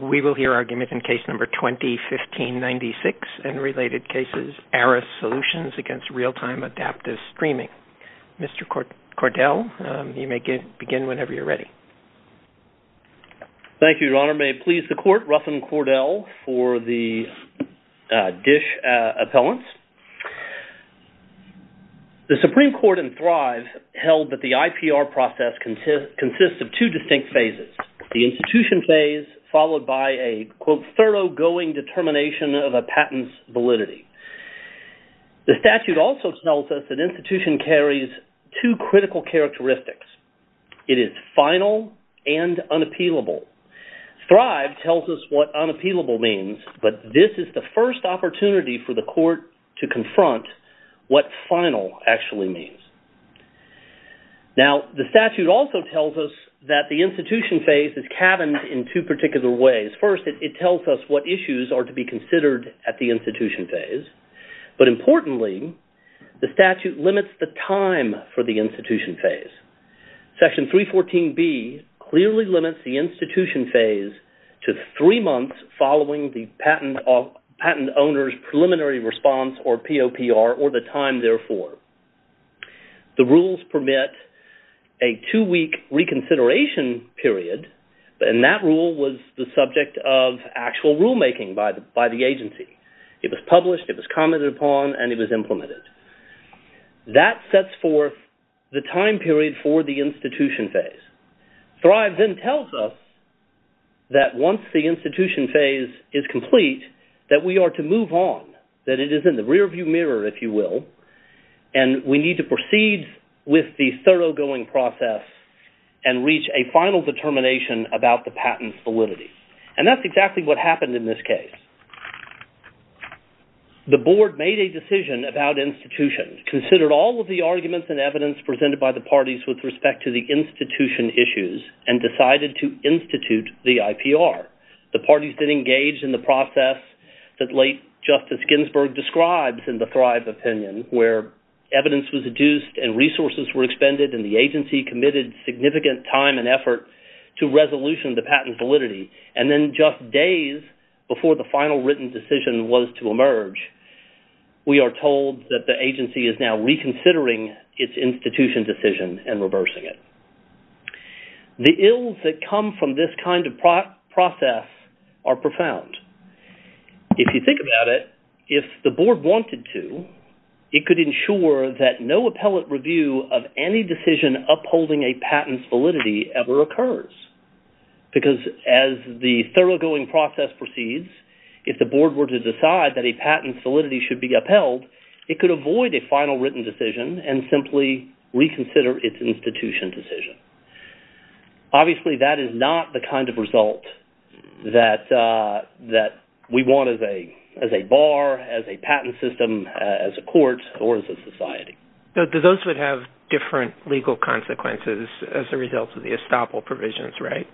We will hear arguments in Case No. 20-1596 and related cases, Arris Solutions against Realtime Adaptive Streaming. Mr. Cordell, you may begin whenever you're ready. Thank you, Your Honor. May it please the Court, Ruffin Cordell for the DISH appellants. The Supreme Court in Thrive held that the IPR process consists of two distinct phases. The institution phase followed by a, quote, thoroughgoing determination of a patent's validity. The statute also tells us an institution carries two critical characteristics. It is final and unappealable. Thrive tells us what unappealable means, but this is the first opportunity for the Court to confront what final actually means. Now, the statute also tells us that the institution phase is cabined in two particular ways. First, it tells us what issues are to be considered at the institution phase. But importantly, the statute limits the time for the institution phase. Section 314B clearly limits the institution phase to three months following the patent owner's preliminary response, or POPR, or the time therefore. The rules permit a two-week reconsideration period, and that rule was the subject of actual rulemaking by the agency. It was published, it was commented upon, and it was implemented. That sets forth the time period for the institution phase. Thrive then tells us that once the institution phase is complete, that we are to move on, that it is in the rearview mirror, if you will, and we need to proceed with the thoroughgoing process and reach a final determination about the patent's validity. And that's exactly what happened in this case. The Board made a decision about institutions, considered all of the arguments and evidence presented by the parties with respect to the institution issues, and decided to institute the IPR. The parties then engaged in the process that late Justice Ginsburg describes in the Thrive opinion, where evidence was adduced and resources were expended, and the agency committed significant time and effort to resolution the patent's validity. And then just days before the final written decision was to emerge, we are told that the agency is now reconsidering its institution decision and reversing it. The ills that come from this kind of process are profound. If you think about it, if the Board wanted to, it could ensure that no appellate review of any decision upholding a patent's validity ever occurs. Because as the thoroughgoing process proceeds, if the Board were to decide that a patent's validity should be upheld, it could avoid a final written decision and simply reconsider its institution decision. Obviously, that is not the kind of result that we want as a bar, as a patent system, as a court, or as a society. Those would have different legal consequences as a result of the estoppel provisions, right?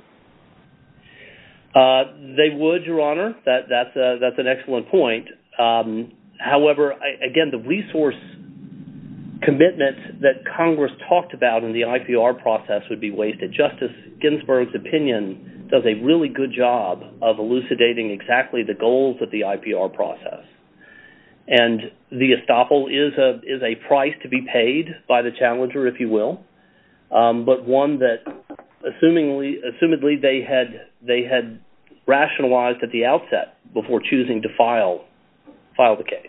They would, Your Honor. That's an excellent point. However, again, the resource commitment that Congress talked about in the IPR process would be wasted. Justice Ginsburg's opinion does a really good job of elucidating exactly the goals of the IPR process. And the estoppel is a price to be paid by the challenger, if you will, but one that, assumedly, they had rationalized at the outset before choosing to file the case.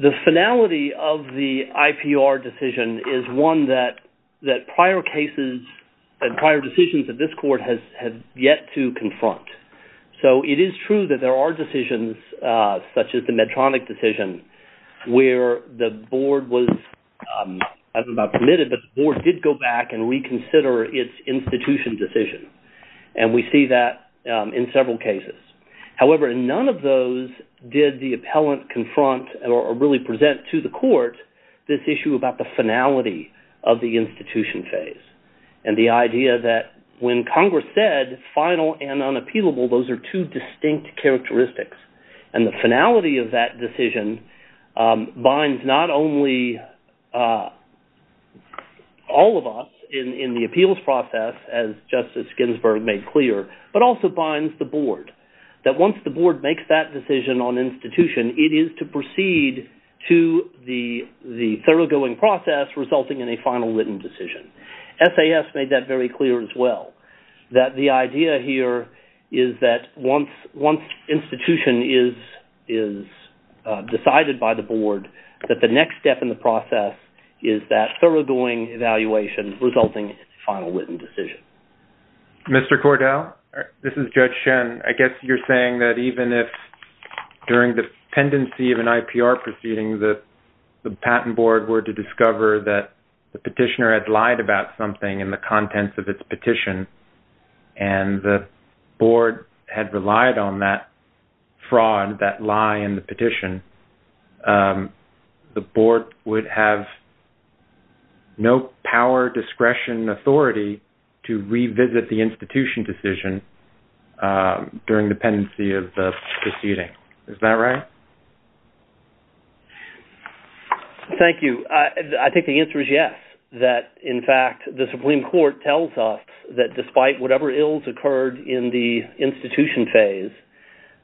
The finality of the IPR decision is one that prior decisions of this Court have yet to confront. So it is true that there are decisions, such as the Medtronic decision, where the Board was, I don't know about permitted, but the Board did go back and reconsider its institution decision. And we see that in several cases. However, in none of those did the appellant confront or really present to the Court this issue about the finality of the institution phase and the idea that when Congress said final and unappealable, those are two distinct characteristics. And the finality of that decision binds not only all of us in the appeals process, as Justice Ginsburg made clear, but also binds the Board, that once the Board makes that decision on institution, it is to proceed to the thoroughgoing process resulting in a final written decision. SAS made that very clear as well. That the idea here is that once institution is decided by the Board, that the next step in the process is that thoroughgoing evaluation resulting in a final written decision. Mr. Cordell, this is Judge Shen. I guess you're saying that even if during the pendency of an IPR proceeding, the Patent Board were to discover that the petitioner had lied about something in the contents of its petition, and the Board had relied on that fraud, that lie in the petition, the Board would have no power, discretion, authority to revisit the institution decision during the pendency of the proceeding. Is that right? Thank you. I think the answer is yes. That, in fact, the Supreme Court tells us that despite whatever ills occurred in the institution phase,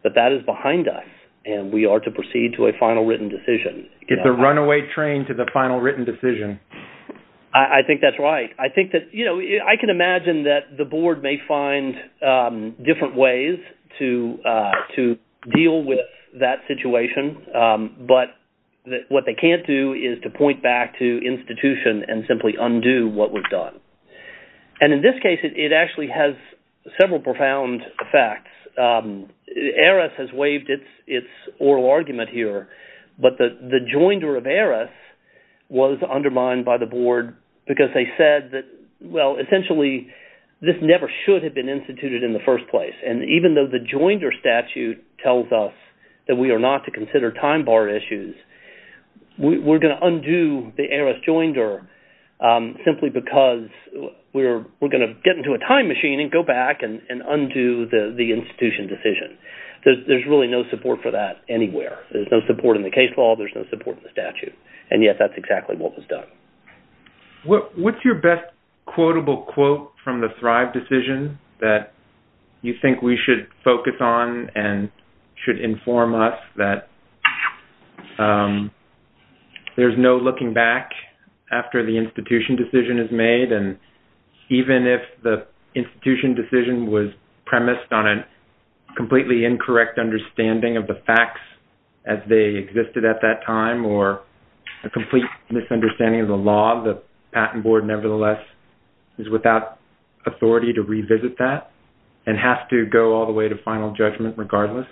that that is behind us, and we are to proceed to a final written decision. It's a runaway train to the final written decision. I think that's right. I think that, you know, I can imagine that the Board may find different ways to deal with that situation, but what they can't do is to point back to institution and simply undo what was done. And in this case, it actually has several profound effects. ARIS has waived its oral argument here, but the joinder of ARIS was undermined by the Board because they said that, well, essentially, this never should have been instituted in the first place. And even though the joinder statute tells us that we are not to consider time bar issues, we're going to undo the ARIS joinder simply because we're going to get into a time machine and go back and undo the institution decision. There's really no support for that anywhere. There's no support in the case law. There's no support in the statute. And yet, that's exactly what was done. What's your best quotable quote from the Thrive decision that you think we should focus on and should inform us that there's no looking back after the institution decision is made, and even if the institution decision was premised on a completely incorrect understanding of the facts as they existed at that time or a complete misunderstanding of the law, the Patent Board nevertheless is without authority to revisit that and has to go all the way to final judgment regardless?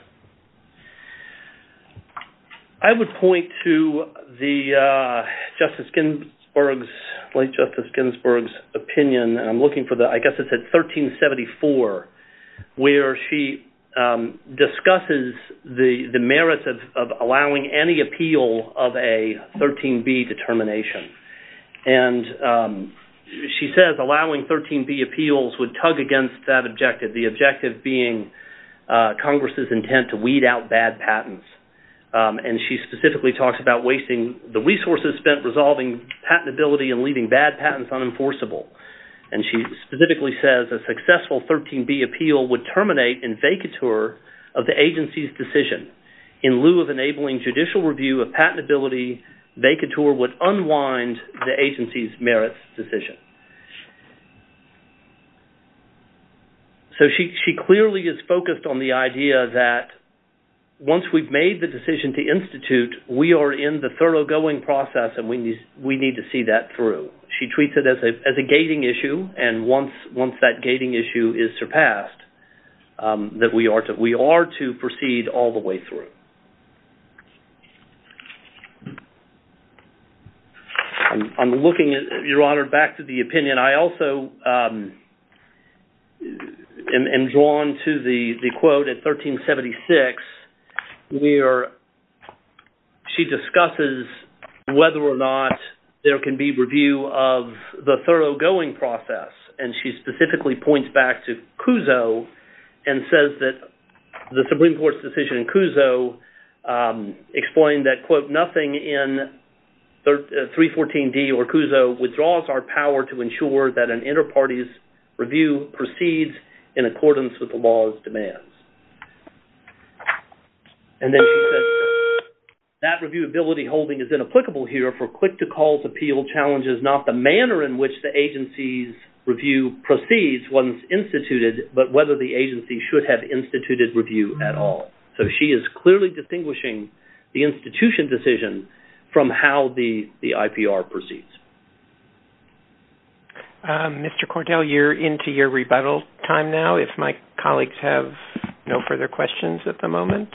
I would point to the late Justice Ginsburg's opinion, and I'm looking for the, I guess it said 1374, where she discusses the merits of allowing any appeal of a 13B determination. And she says allowing 13B appeals would tug against that objective, the objective being Congress' intent to weed out bad patents. And she specifically talks about wasting the resources spent resolving patentability and leaving bad patents unenforceable. And she specifically says a successful 13B appeal would terminate in vacatur of the agency's decision. In lieu of enabling judicial review of patentability, vacatur would unwind the agency's merits decision. So she clearly is focused on the idea that once we've made the decision to institute, we are in the thoroughgoing process and we need to see that through. She treats it as a gating issue, and once that gating issue is surpassed, that we are to proceed all the way through. I'm looking, Your Honor, back to the opinion. I also am drawn to the quote at 1376, where she discusses whether or not there can be review of the thoroughgoing process. And she specifically points back to Cuso and says that the Supreme Court's decision in Cuso explained that, quote, nothing in 314D or Cuso withdraws our power to ensure that an interparty's review proceeds in accordance with the law's demands. And then she says that reviewability holding is inapplicable here for quick-to-call appeal challenges, not the manner in which the agency's review proceeds once instituted, but whether the agency should have instituted review at all. So she is clearly distinguishing the institution decision from how the IPR proceeds. Mr. Cordell, you're into your rebuttal time now. If my colleagues have no further questions at the moment,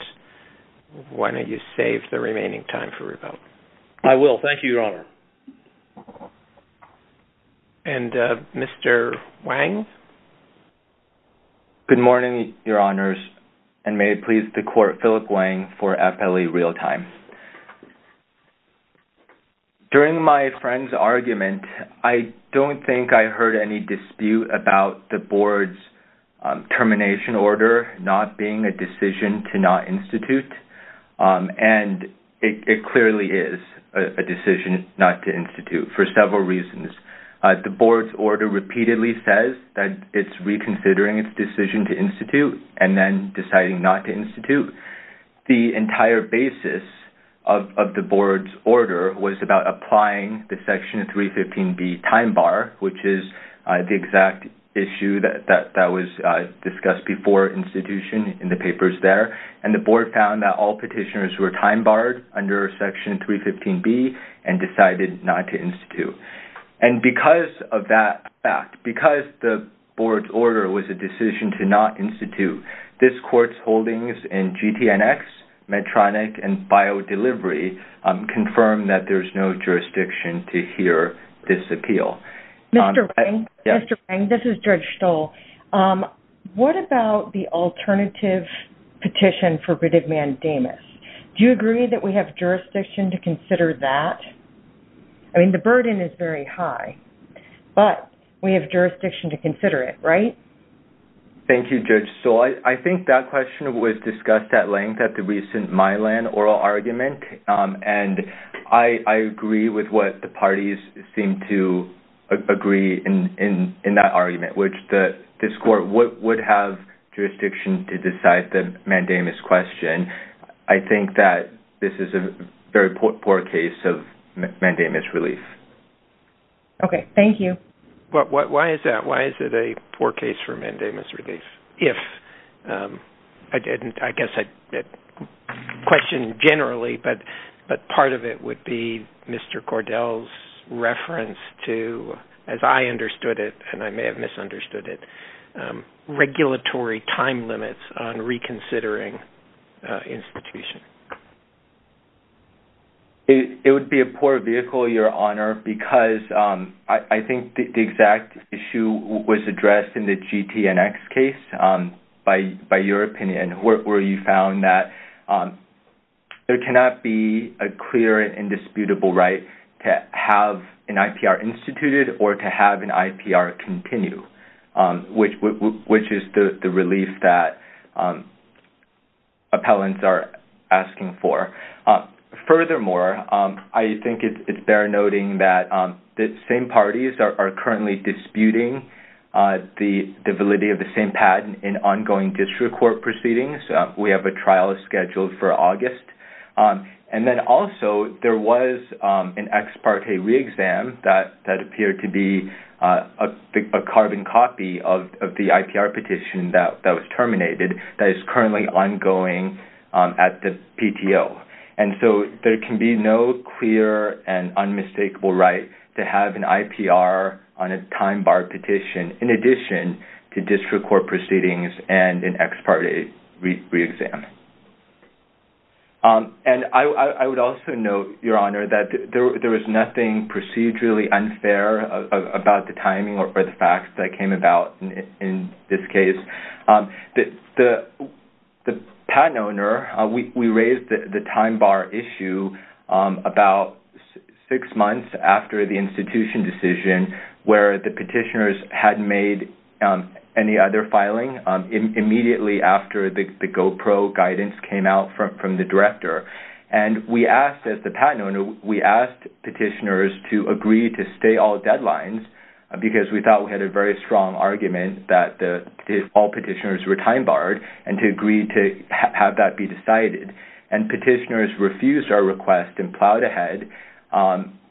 why don't you save the remaining time for rebuttal? I will. Thank you, Your Honor. And Mr. Wang? Good morning, Your Honors. And may it please the Court, Philip Wang for FLE Real Time. During my friend's argument, I don't think I heard any dispute about the Board's termination order not being a decision to not institute. And it clearly is a decision not to institute for several reasons. The Board's order repeatedly says that it's reconsidering its decision to institute and then deciding not to institute. The entire basis of the Board's order was about applying the Section 315B time bar, which is the exact issue that was discussed before institution in the papers there. And the Board found that all petitioners were time barred under Section 315B and decided not to institute. And because of that fact, because the Board's order was a decision to not institute, this Court's holdings in GTNX, Medtronic, and BioDelivery confirm that there's no jurisdiction to hear this appeal. Mr. Wang, this is Judge Stoll. What about the alternative petition for writ of mandamus? Do you agree that we have jurisdiction to consider that? I mean, the burden is very high, but we have jurisdiction to consider it, right? Thank you, Judge Stoll. I think that question was discussed at length at the recent Milan oral argument, and I agree with what the parties seem to agree in that argument, which this Court would have jurisdiction to decide the mandamus question. I think that this is a very poor case of mandamus relief. Okay. Thank you. Why is it a poor case for mandamus relief? I guess I'd question generally, but part of it would be Mr. Cordell's reference to, as I understood it, and I may have misunderstood it, regulatory time limits on reconsidering institution. It would be a poor vehicle, Your Honor, because I think the exact issue was addressed in the GTNX case, by your opinion, where you found that there cannot be a clear and indisputable right to have an IPR instituted or to have an IPR continue, which is the relief that appellants are asking for. Furthermore, I think it's fair noting that the same parties are currently disputing the validity of the same patent in ongoing district court proceedings. We have a trial scheduled for August, and then also there was an ex parte re-exam that appeared to be a carbon copy of the IPR petition that was terminated that is currently ongoing at the PTO. And so there can be no clear and unmistakable right to have an IPR on a time bar petition in addition to district court proceedings and an ex parte re-exam. And I would also note, Your Honor, that there was nothing procedurally unfair about the timing or the facts that came about in this case. The patent owner, we raised the time bar issue about six months after the institution decision where the petitioners hadn't made any other filing immediately after the GoPro guidance came out from the director. And we asked, as the patent owner, we asked petitioners to agree to stay all deadlines because we thought we had a very strong argument that all petitioners were time barred and to agree to have that be decided. And petitioners refused our request and plowed ahead.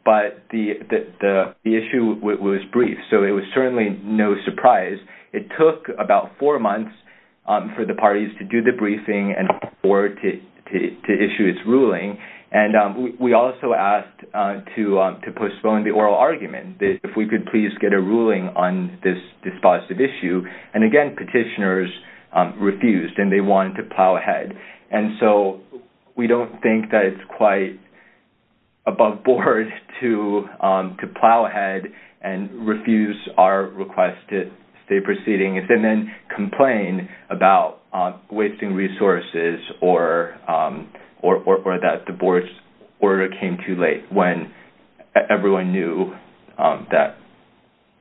But the issue was brief, so it was certainly no surprise. It took about four months for the parties to do the briefing and for it to issue its ruling. And we also asked to postpone the oral argument, if we could please get a ruling on this dispositive issue. And again, petitioners refused and they wanted to plow ahead. And so we don't think that it's quite above board to plow ahead and refuse our request to stay proceedings and then complain about wasting resources or that the board's order came too late when everyone knew that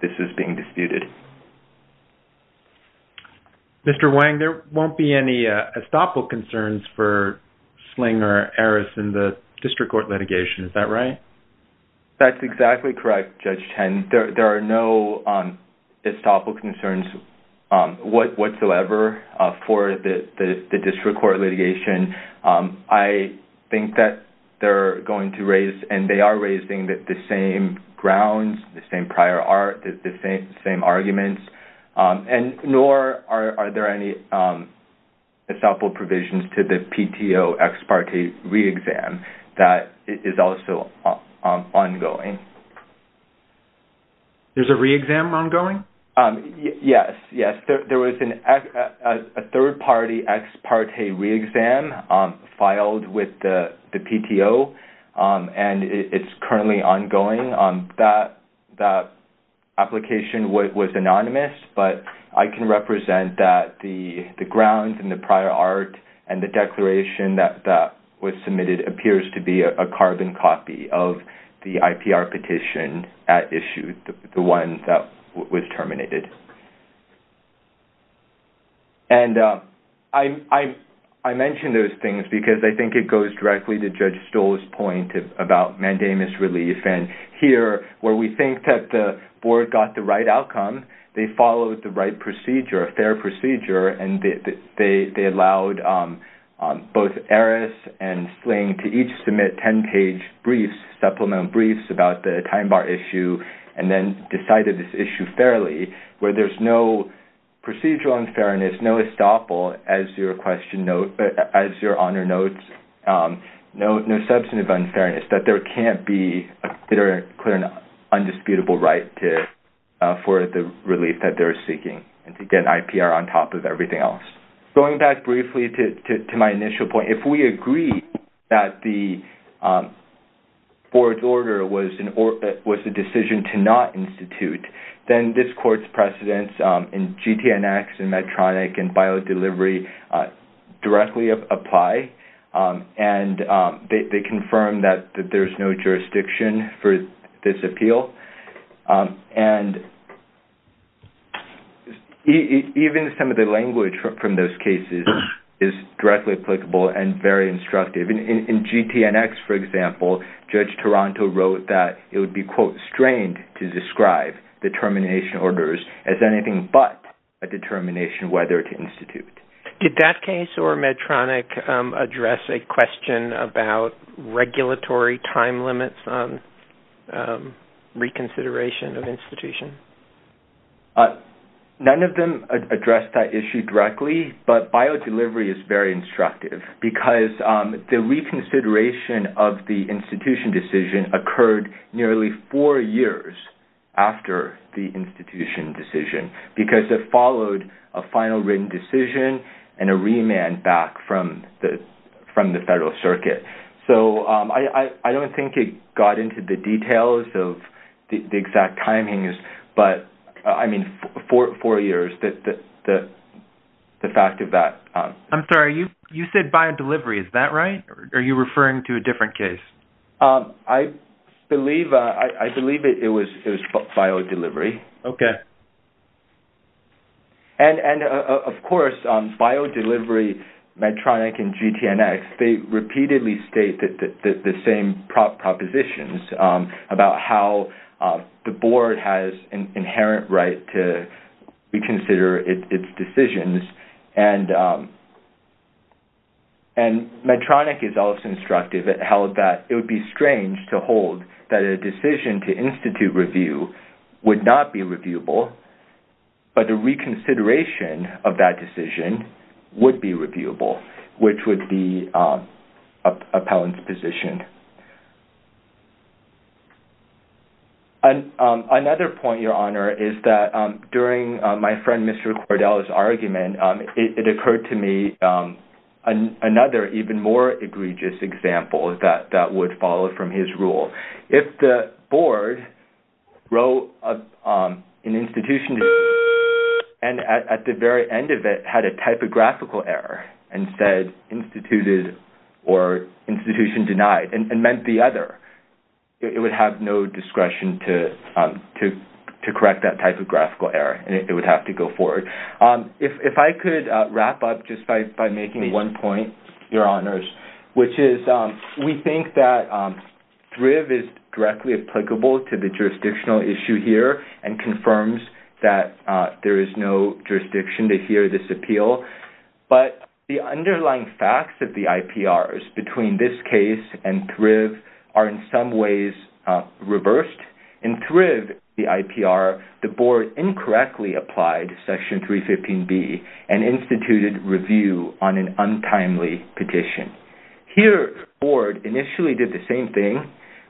this was being disputed. Mr. Wang, there won't be any estoppel concerns for Sling or Aris in the district court litigation. Is that right? That's exactly correct, Judge Chen. There are no estoppel concerns whatsoever for the district court litigation. I think that they're going to raise and they are raising the same grounds, the same prior art, the same arguments. And nor are there any estoppel provisions to the PTO ex parte re-exam that is also ongoing. There's a re-exam ongoing? Yes. There was a third party ex parte re-exam filed with the PTO and it's currently ongoing. That application was anonymous, but I can represent that the grounds and the prior art and the declaration that was submitted appears to be a carbon copy of the IPR petition at issue, the one that was terminated. And I mentioned those things because I think it goes directly to Judge Stoll's point about mandamus relief and here, where we think that the board got the right outcome, they followed the right procedure, a fair procedure, and they allowed both Aris and Sling to each submit 10-page briefs, supplemental briefs, about the time bar issue, and then decided this issue fairly, where there's no procedural unfairness, no estoppel, as your Honor notes, no substantive unfairness, that there can't be a clear and undisputable right for the relief that they're seeking and to get IPR on top of everything else. Going back briefly to my initial point, if we agree that the board's order was a decision to not institute, then this court's precedents in GTNX and Medtronic and biodelivery directly apply and they confirm that there's no jurisdiction for this appeal. And even some of the language from those cases is directly applicable and very instructive. In GTNX, for example, Judge Taranto wrote that it would be, quote, strained to describe determination orders as anything but a determination whether to institute. Did that case or Medtronic address a question about regulatory time limits on reconsideration of institution? None of them addressed that issue directly, but biodelivery is very instructive because the reconsideration of the institution decision took nearly four years after the institution decision because it followed a final written decision and a remand back from the federal circuit. So I don't think it got into the details of the exact timings, but, I mean, four years, the fact of that. I'm sorry, you said biodelivery, is that right? Are you referring to a different case? I believe it was biodelivery. Okay. And, of course, biodelivery, Medtronic, and GTNX, they repeatedly state the same propositions about how the board has an inherent right to reconsider its decisions. And Medtronic is also instructive. It held that it would be strange to hold that a decision to institute review would not be reviewable, but a reconsideration of that decision would be reviewable, which would be appellant's position. Another point, Your Honor, is that during my friend Mr. Cordell's argument, it occurred to me another even more egregious example that would follow from his rule. If the board wrote an institution and at the very end of it had a typographical error and said instituted or institution denied and meant the other, it would have no discretion to correct that typographical error, and it would have to go forward. And if I could wrap up just by making one point, Your Honors, which is we think that Thrive is directly applicable to the jurisdictional issue here and confirms that there is no jurisdiction to hear this appeal, but the underlying facts of the IPRs between this case and Thrive are in some ways reversed. In Thrive, the IPR, the board incorrectly applied Section 315B and instituted review on an untimely petition. Here, the board initially did the same thing,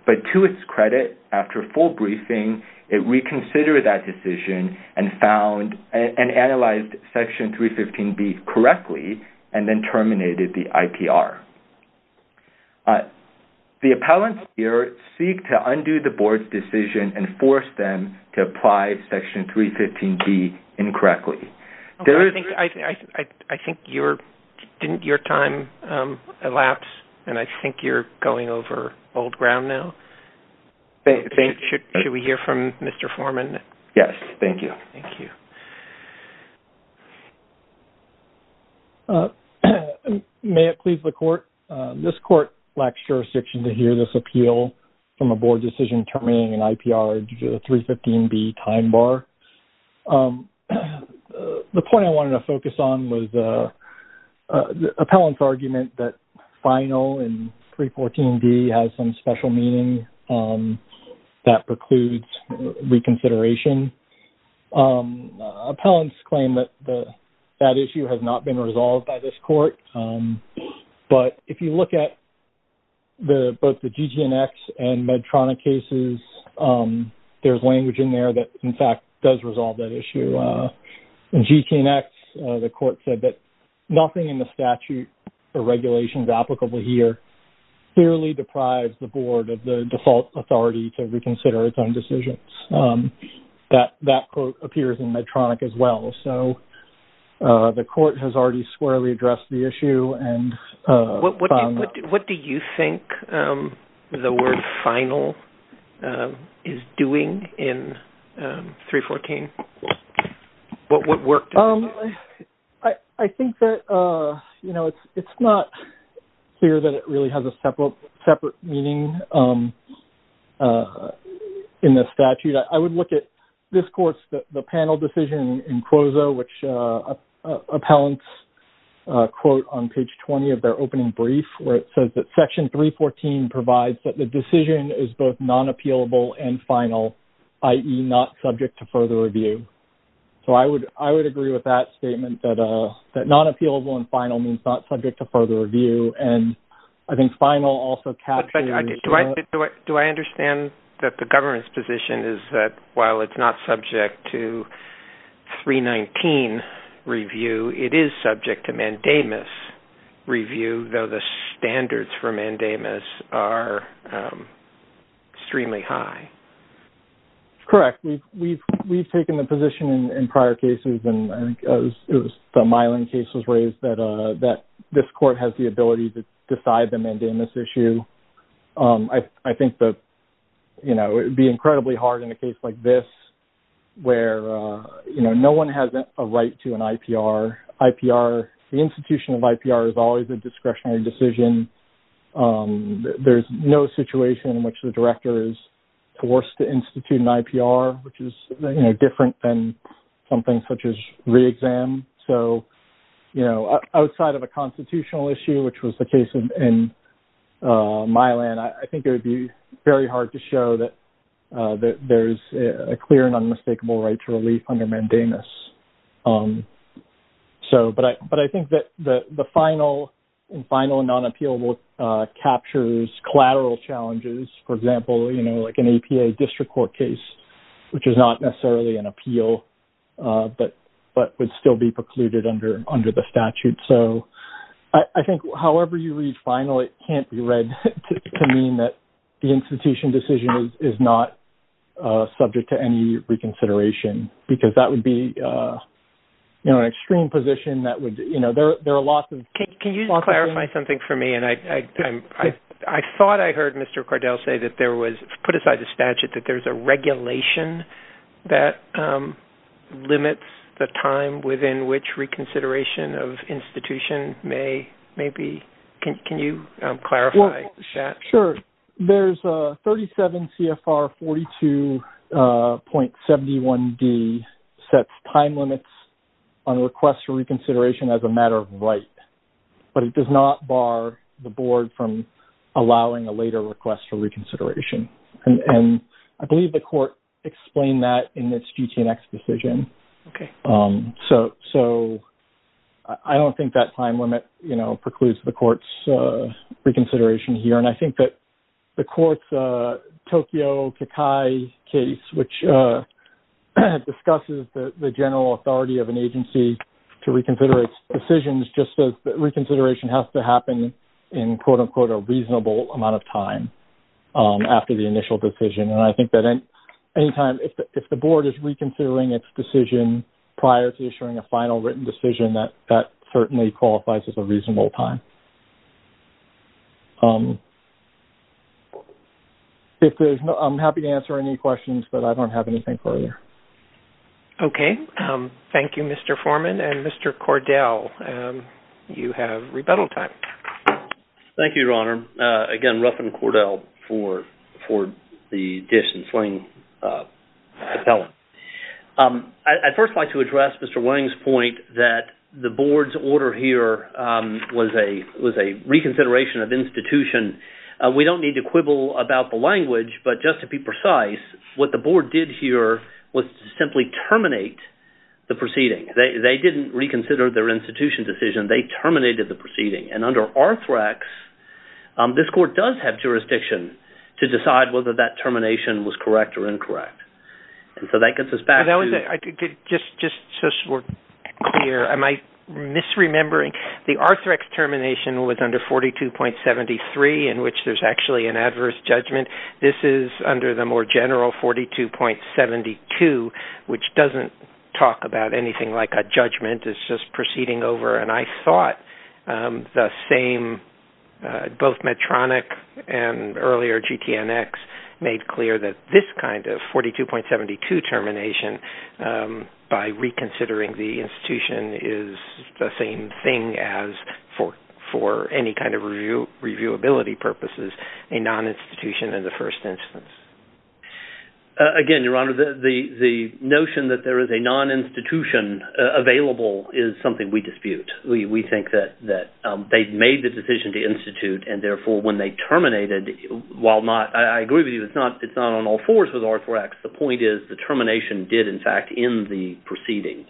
but to its credit, after a full briefing, it reconsidered that decision and analyzed Section 315B correctly and then terminated the IPR. The appellants here seek to undo the board's decision and force them to apply Section 315B incorrectly. I think your time elapsed, and I think you're going over old ground now. Should we hear from Mr. Foreman? Yes, thank you. May it please the Court, this Court lacks jurisdiction to hear this appeal from a board decision terminating an IPR under the 315B time bar. The point I wanted to focus on was the appellant's argument that final in 314B has some special meaning that precludes reconsideration. Appellants claim that that issue has not been resolved by this Court, but if you look at both the GGNX and Medtronic cases, there's language in there that, in fact, does resolve that issue. In GGNX, the Court said that nothing in the statute or regulations applicable here clearly deprives the Board of the default authority to reconsider its own decisions. That quote appears in Medtronic as well. So, the Court has already squarely addressed the issue. What do you think the word final is doing in 314? What work does it do? I think that it's not clear that it really has a separate meaning in the statute. I would look at this Court's panel decision in CROZO, which appellants quote on page 20 of their opening brief where it says that Section 314 provides that the decision is both non-appealable and final, i.e., not subject to further review. So, I would agree with that statement, that non-appealable and final means not subject to further review. And I think final also captures- Do I understand that the government's position is that while it's not subject to 319 review, it is subject to mandamus review, though the standards for mandamus are extremely high? Correct. We've taken the position in prior cases, and the Mylan case was raised, that this Court has the ability to decide the mandamus issue. I think that it would be incredibly hard in a case like this where no one has a right to an IPR. The institution of IPR is always a discretionary decision. There's no situation in which the director is forced to institute an IPR, which is different than something such as re-exam. So, outside of a constitutional issue, which was the case in Mylan, I think it would be very hard to show that there's a clear and unmistakable right to relief under mandamus. But I think that the final and non-appealable captures collateral challenges. For example, an APA district court case, which is not necessarily an appeal, but would still be precluded under the statute. So, I think however you read final, it can't be read to mean that the institution decision is not subject to any reconsideration, because that would be an extreme position. There are lots of... Can you clarify something for me? I thought I heard Mr. Cardell say that there was, put aside the statute, that there's a regulation that limits the time within which reconsideration of institution may be... Can you clarify that? Sure. There's 37 CFR 42.71d sets time limits on requests for reconsideration as a matter of right. But it does not bar the board from allowing a later request for reconsideration. And I believe the court explained that in its GTNX decision. Okay. So, I don't think that time limit precludes the court's reconsideration here. The court's Tokyo Kikai case, which discusses the general authority of an agency to reconsider its decisions, just says that reconsideration has to happen in quote-unquote a reasonable amount of time after the initial decision. And I think that at any time, if the board is reconsidering its decision prior to issuing a final written decision, that certainly qualifies as a reasonable time. I'm happy to answer any questions, but I don't have anything further. Okay. Thank you, Mr. Foreman. And Mr. Cordell, you have rebuttal time. Thank you, Your Honor. Again, Ruffin Cordell for the Dish and Sling appellate. I'd first like to address Mr. Wang's point that the board's order here was a reconsideration of institution. I don't mean to quibble about the language, but just to be precise, what the board did here was simply terminate the proceeding. They didn't reconsider their institution decision. They terminated the proceeding. And under Arthrex, this court does have jurisdiction to decide whether that termination was correct or incorrect. And so that gets us back to... Just so we're clear, am I misremembering? The Arthrex termination was under 42.73 which is an adverse judgment. This is under the more general 42.72 which doesn't talk about anything like a judgment. It's just proceeding over, and I thought the same, both Medtronic and earlier GTN-X made clear that this kind of 42.72 termination by reconsidering the institution is the same thing as for any kind of reviewability purposes of a non-institution in the first instance. Again, Your Honor, the notion that there is a non-institution available is something we dispute. We think that they made the decision to institute and therefore when they terminated, while not, I agree with you, it's not on all fours with Arthrex. The point is the termination did in fact end the proceeding.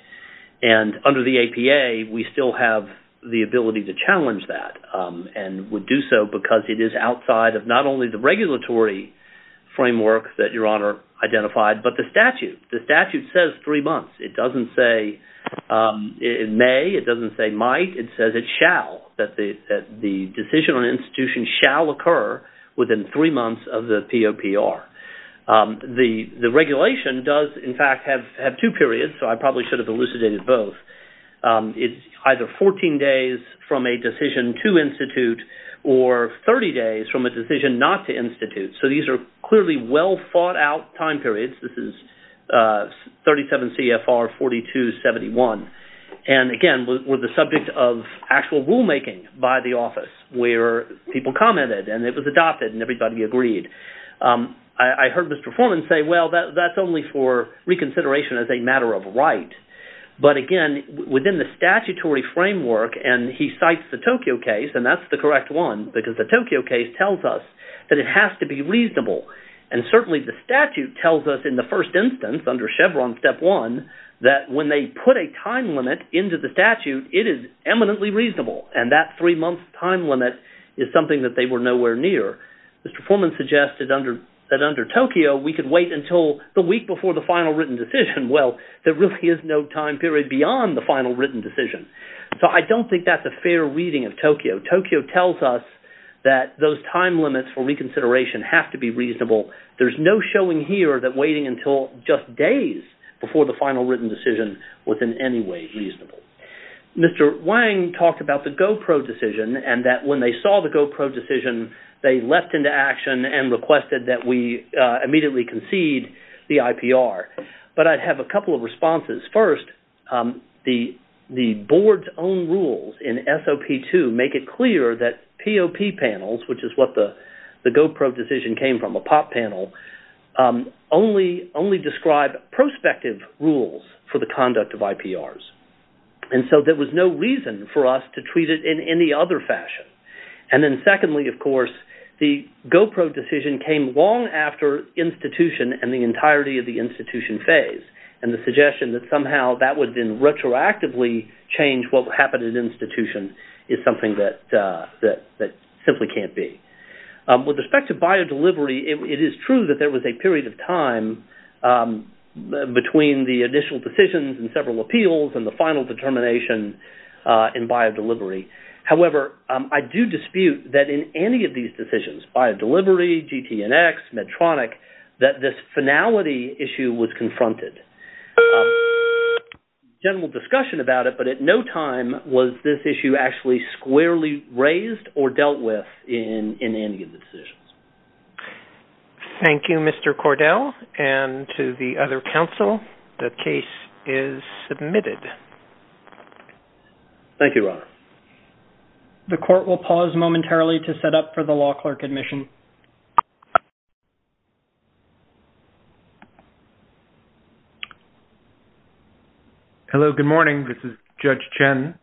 And under the APA, we still have the ability to challenge that and would do so because it is outside of not only the regulatory framework that Your Honor identified, but the statute. The statute says three months. It doesn't say May. It doesn't say might. It says it shall, that the decision on institution shall occur within three months of the POPR. The regulation does in fact have two periods, so I probably should have elucidated both. It's either 14 days from a decision to institute or 30 days from a decision not to institute. So these are clearly well thought out time periods. This is 37 CFR 4271. And again, we're the subject of actual rulemaking by the office where people commented and it was adopted and everybody agreed. I heard Mr. Foreman say, well, that's only for reconsideration as a matter of right. But again, within the statutory framework and he cites the Tokyo case and that's the correct one because the Tokyo case tells us that it has to be reasonable. And certainly the statute tells us in the first instance under Chevron Step 1 that when they put a time limit into the statute, it is eminently reasonable. And that three month time limit is something that they were nowhere near. Mr. Foreman suggested that under Tokyo we could wait until the week before the final written decision. Well, there really is no time period beyond the final written decision. So I don't think that's a fair reading of Tokyo. Tokyo tells us that those time limits for reconsideration have to be reasonable. There's no showing here that waiting until just days before the final written decision was in any way reasonable. Mr. Wang talked about the GoPro decision and that when they saw the GoPro decision, they left into action and requested that we immediately concede the IPR. But I'd have a couple of responses. First, the board's own rules in SOP 2 make it clear that POP panels, which is what the GoPro decision came from, a POP panel, only describe prospective rules for the conduct of IPRs. And so there was no reason for us to treat it in any other fashion. And then secondly, of course, the GoPro decision came long after institution and the entirety of the institution phase and the suggestion that somehow that would then retroactively change what would happen at institution is something that simply can't be. With respect to buyer delivery, it is true that there was a period of time between the initial decisions and several appeals and the final determination in buyer delivery. However, I do dispute that in any of these decisions, buyer delivery, GTNX, Medtronic, that this finality issue was confronted. General discussion about it, but at no time was this issue actually squarely raised or dealt with in any of the decisions. Thank you, Mr. Cordell. And to the other counsel, the case is submitted. Thank you, Robert. The court will pause momentarily to set up for the law clerk admission. Hello, good morning. This is Judge Chen.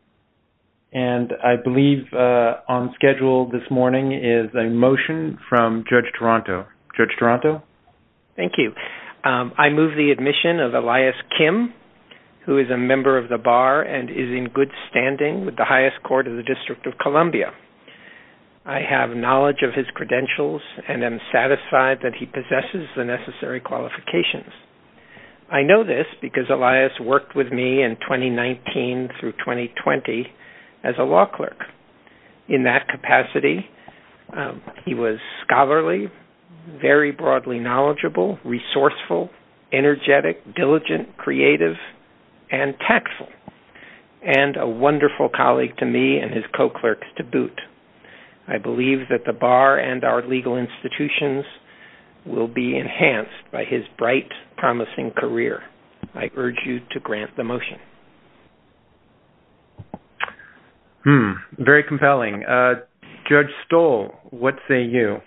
And I believe on schedule this morning is a motion from Judge Toronto. Judge Toronto. Thank you. I move the admission of Elias Kim, who is a member of the bar and is in good standing with the highest court of the District of Columbia. I have knowledge of his credentials and am satisfied that he possesses the necessary qualifications. I know this because Elias worked with me in 2019 through 2020 as a law clerk. In that capacity, he was scholarly, very broadly knowledgeable, resourceful, energetic, diligent, creative, and tactful, and a wonderful colleague to me and his co-clerks to boot. I believe that the bar and its legal institutions will be enhanced by his bright, promising career. I urge you to grant the motion. Very compelling. Judge Stoll, what say you?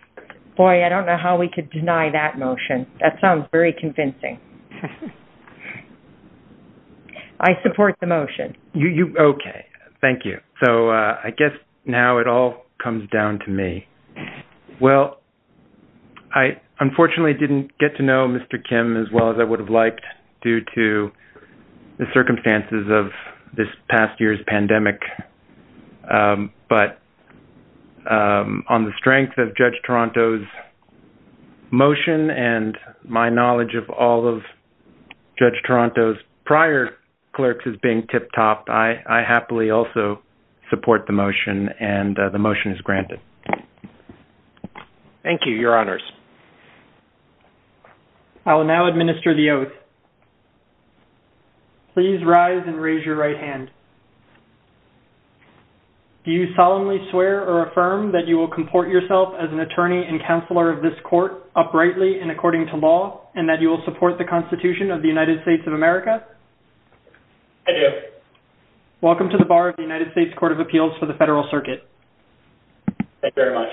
Boy, I don't know how we could deny that motion. That sounds very convincing. I support the motion. Okay, thank you. So I guess now it all comes down to me. Well, I unfortunately didn't get to know Mr. Kim as well as I would have liked due to the circumstances of this past year's pandemic, but on the strength of Judge Toronto's motion and my knowledge of all of Judge Toronto's prior clerks as being tip-top, I happily also support the motion and the motion is granted. Thank you, Your Honors. I will now administer the oath. Please rise and raise your right hand. Do you solemnly swear or affirm that you will comport yourself as an attorney and counselor of this court uprightly and according to law and that you will support the Constitution of the United States of America? I do. Welcome to the Bar of the United States Court of Appeals for the Federal Circuit. Thank you very much.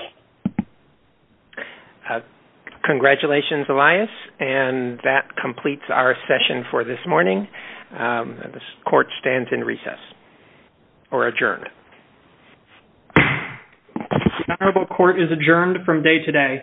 Congratulations, Elias, and that completes our session for this morning. This court stands in recess or adjourned. The Honorable Court is adjourned from day to day.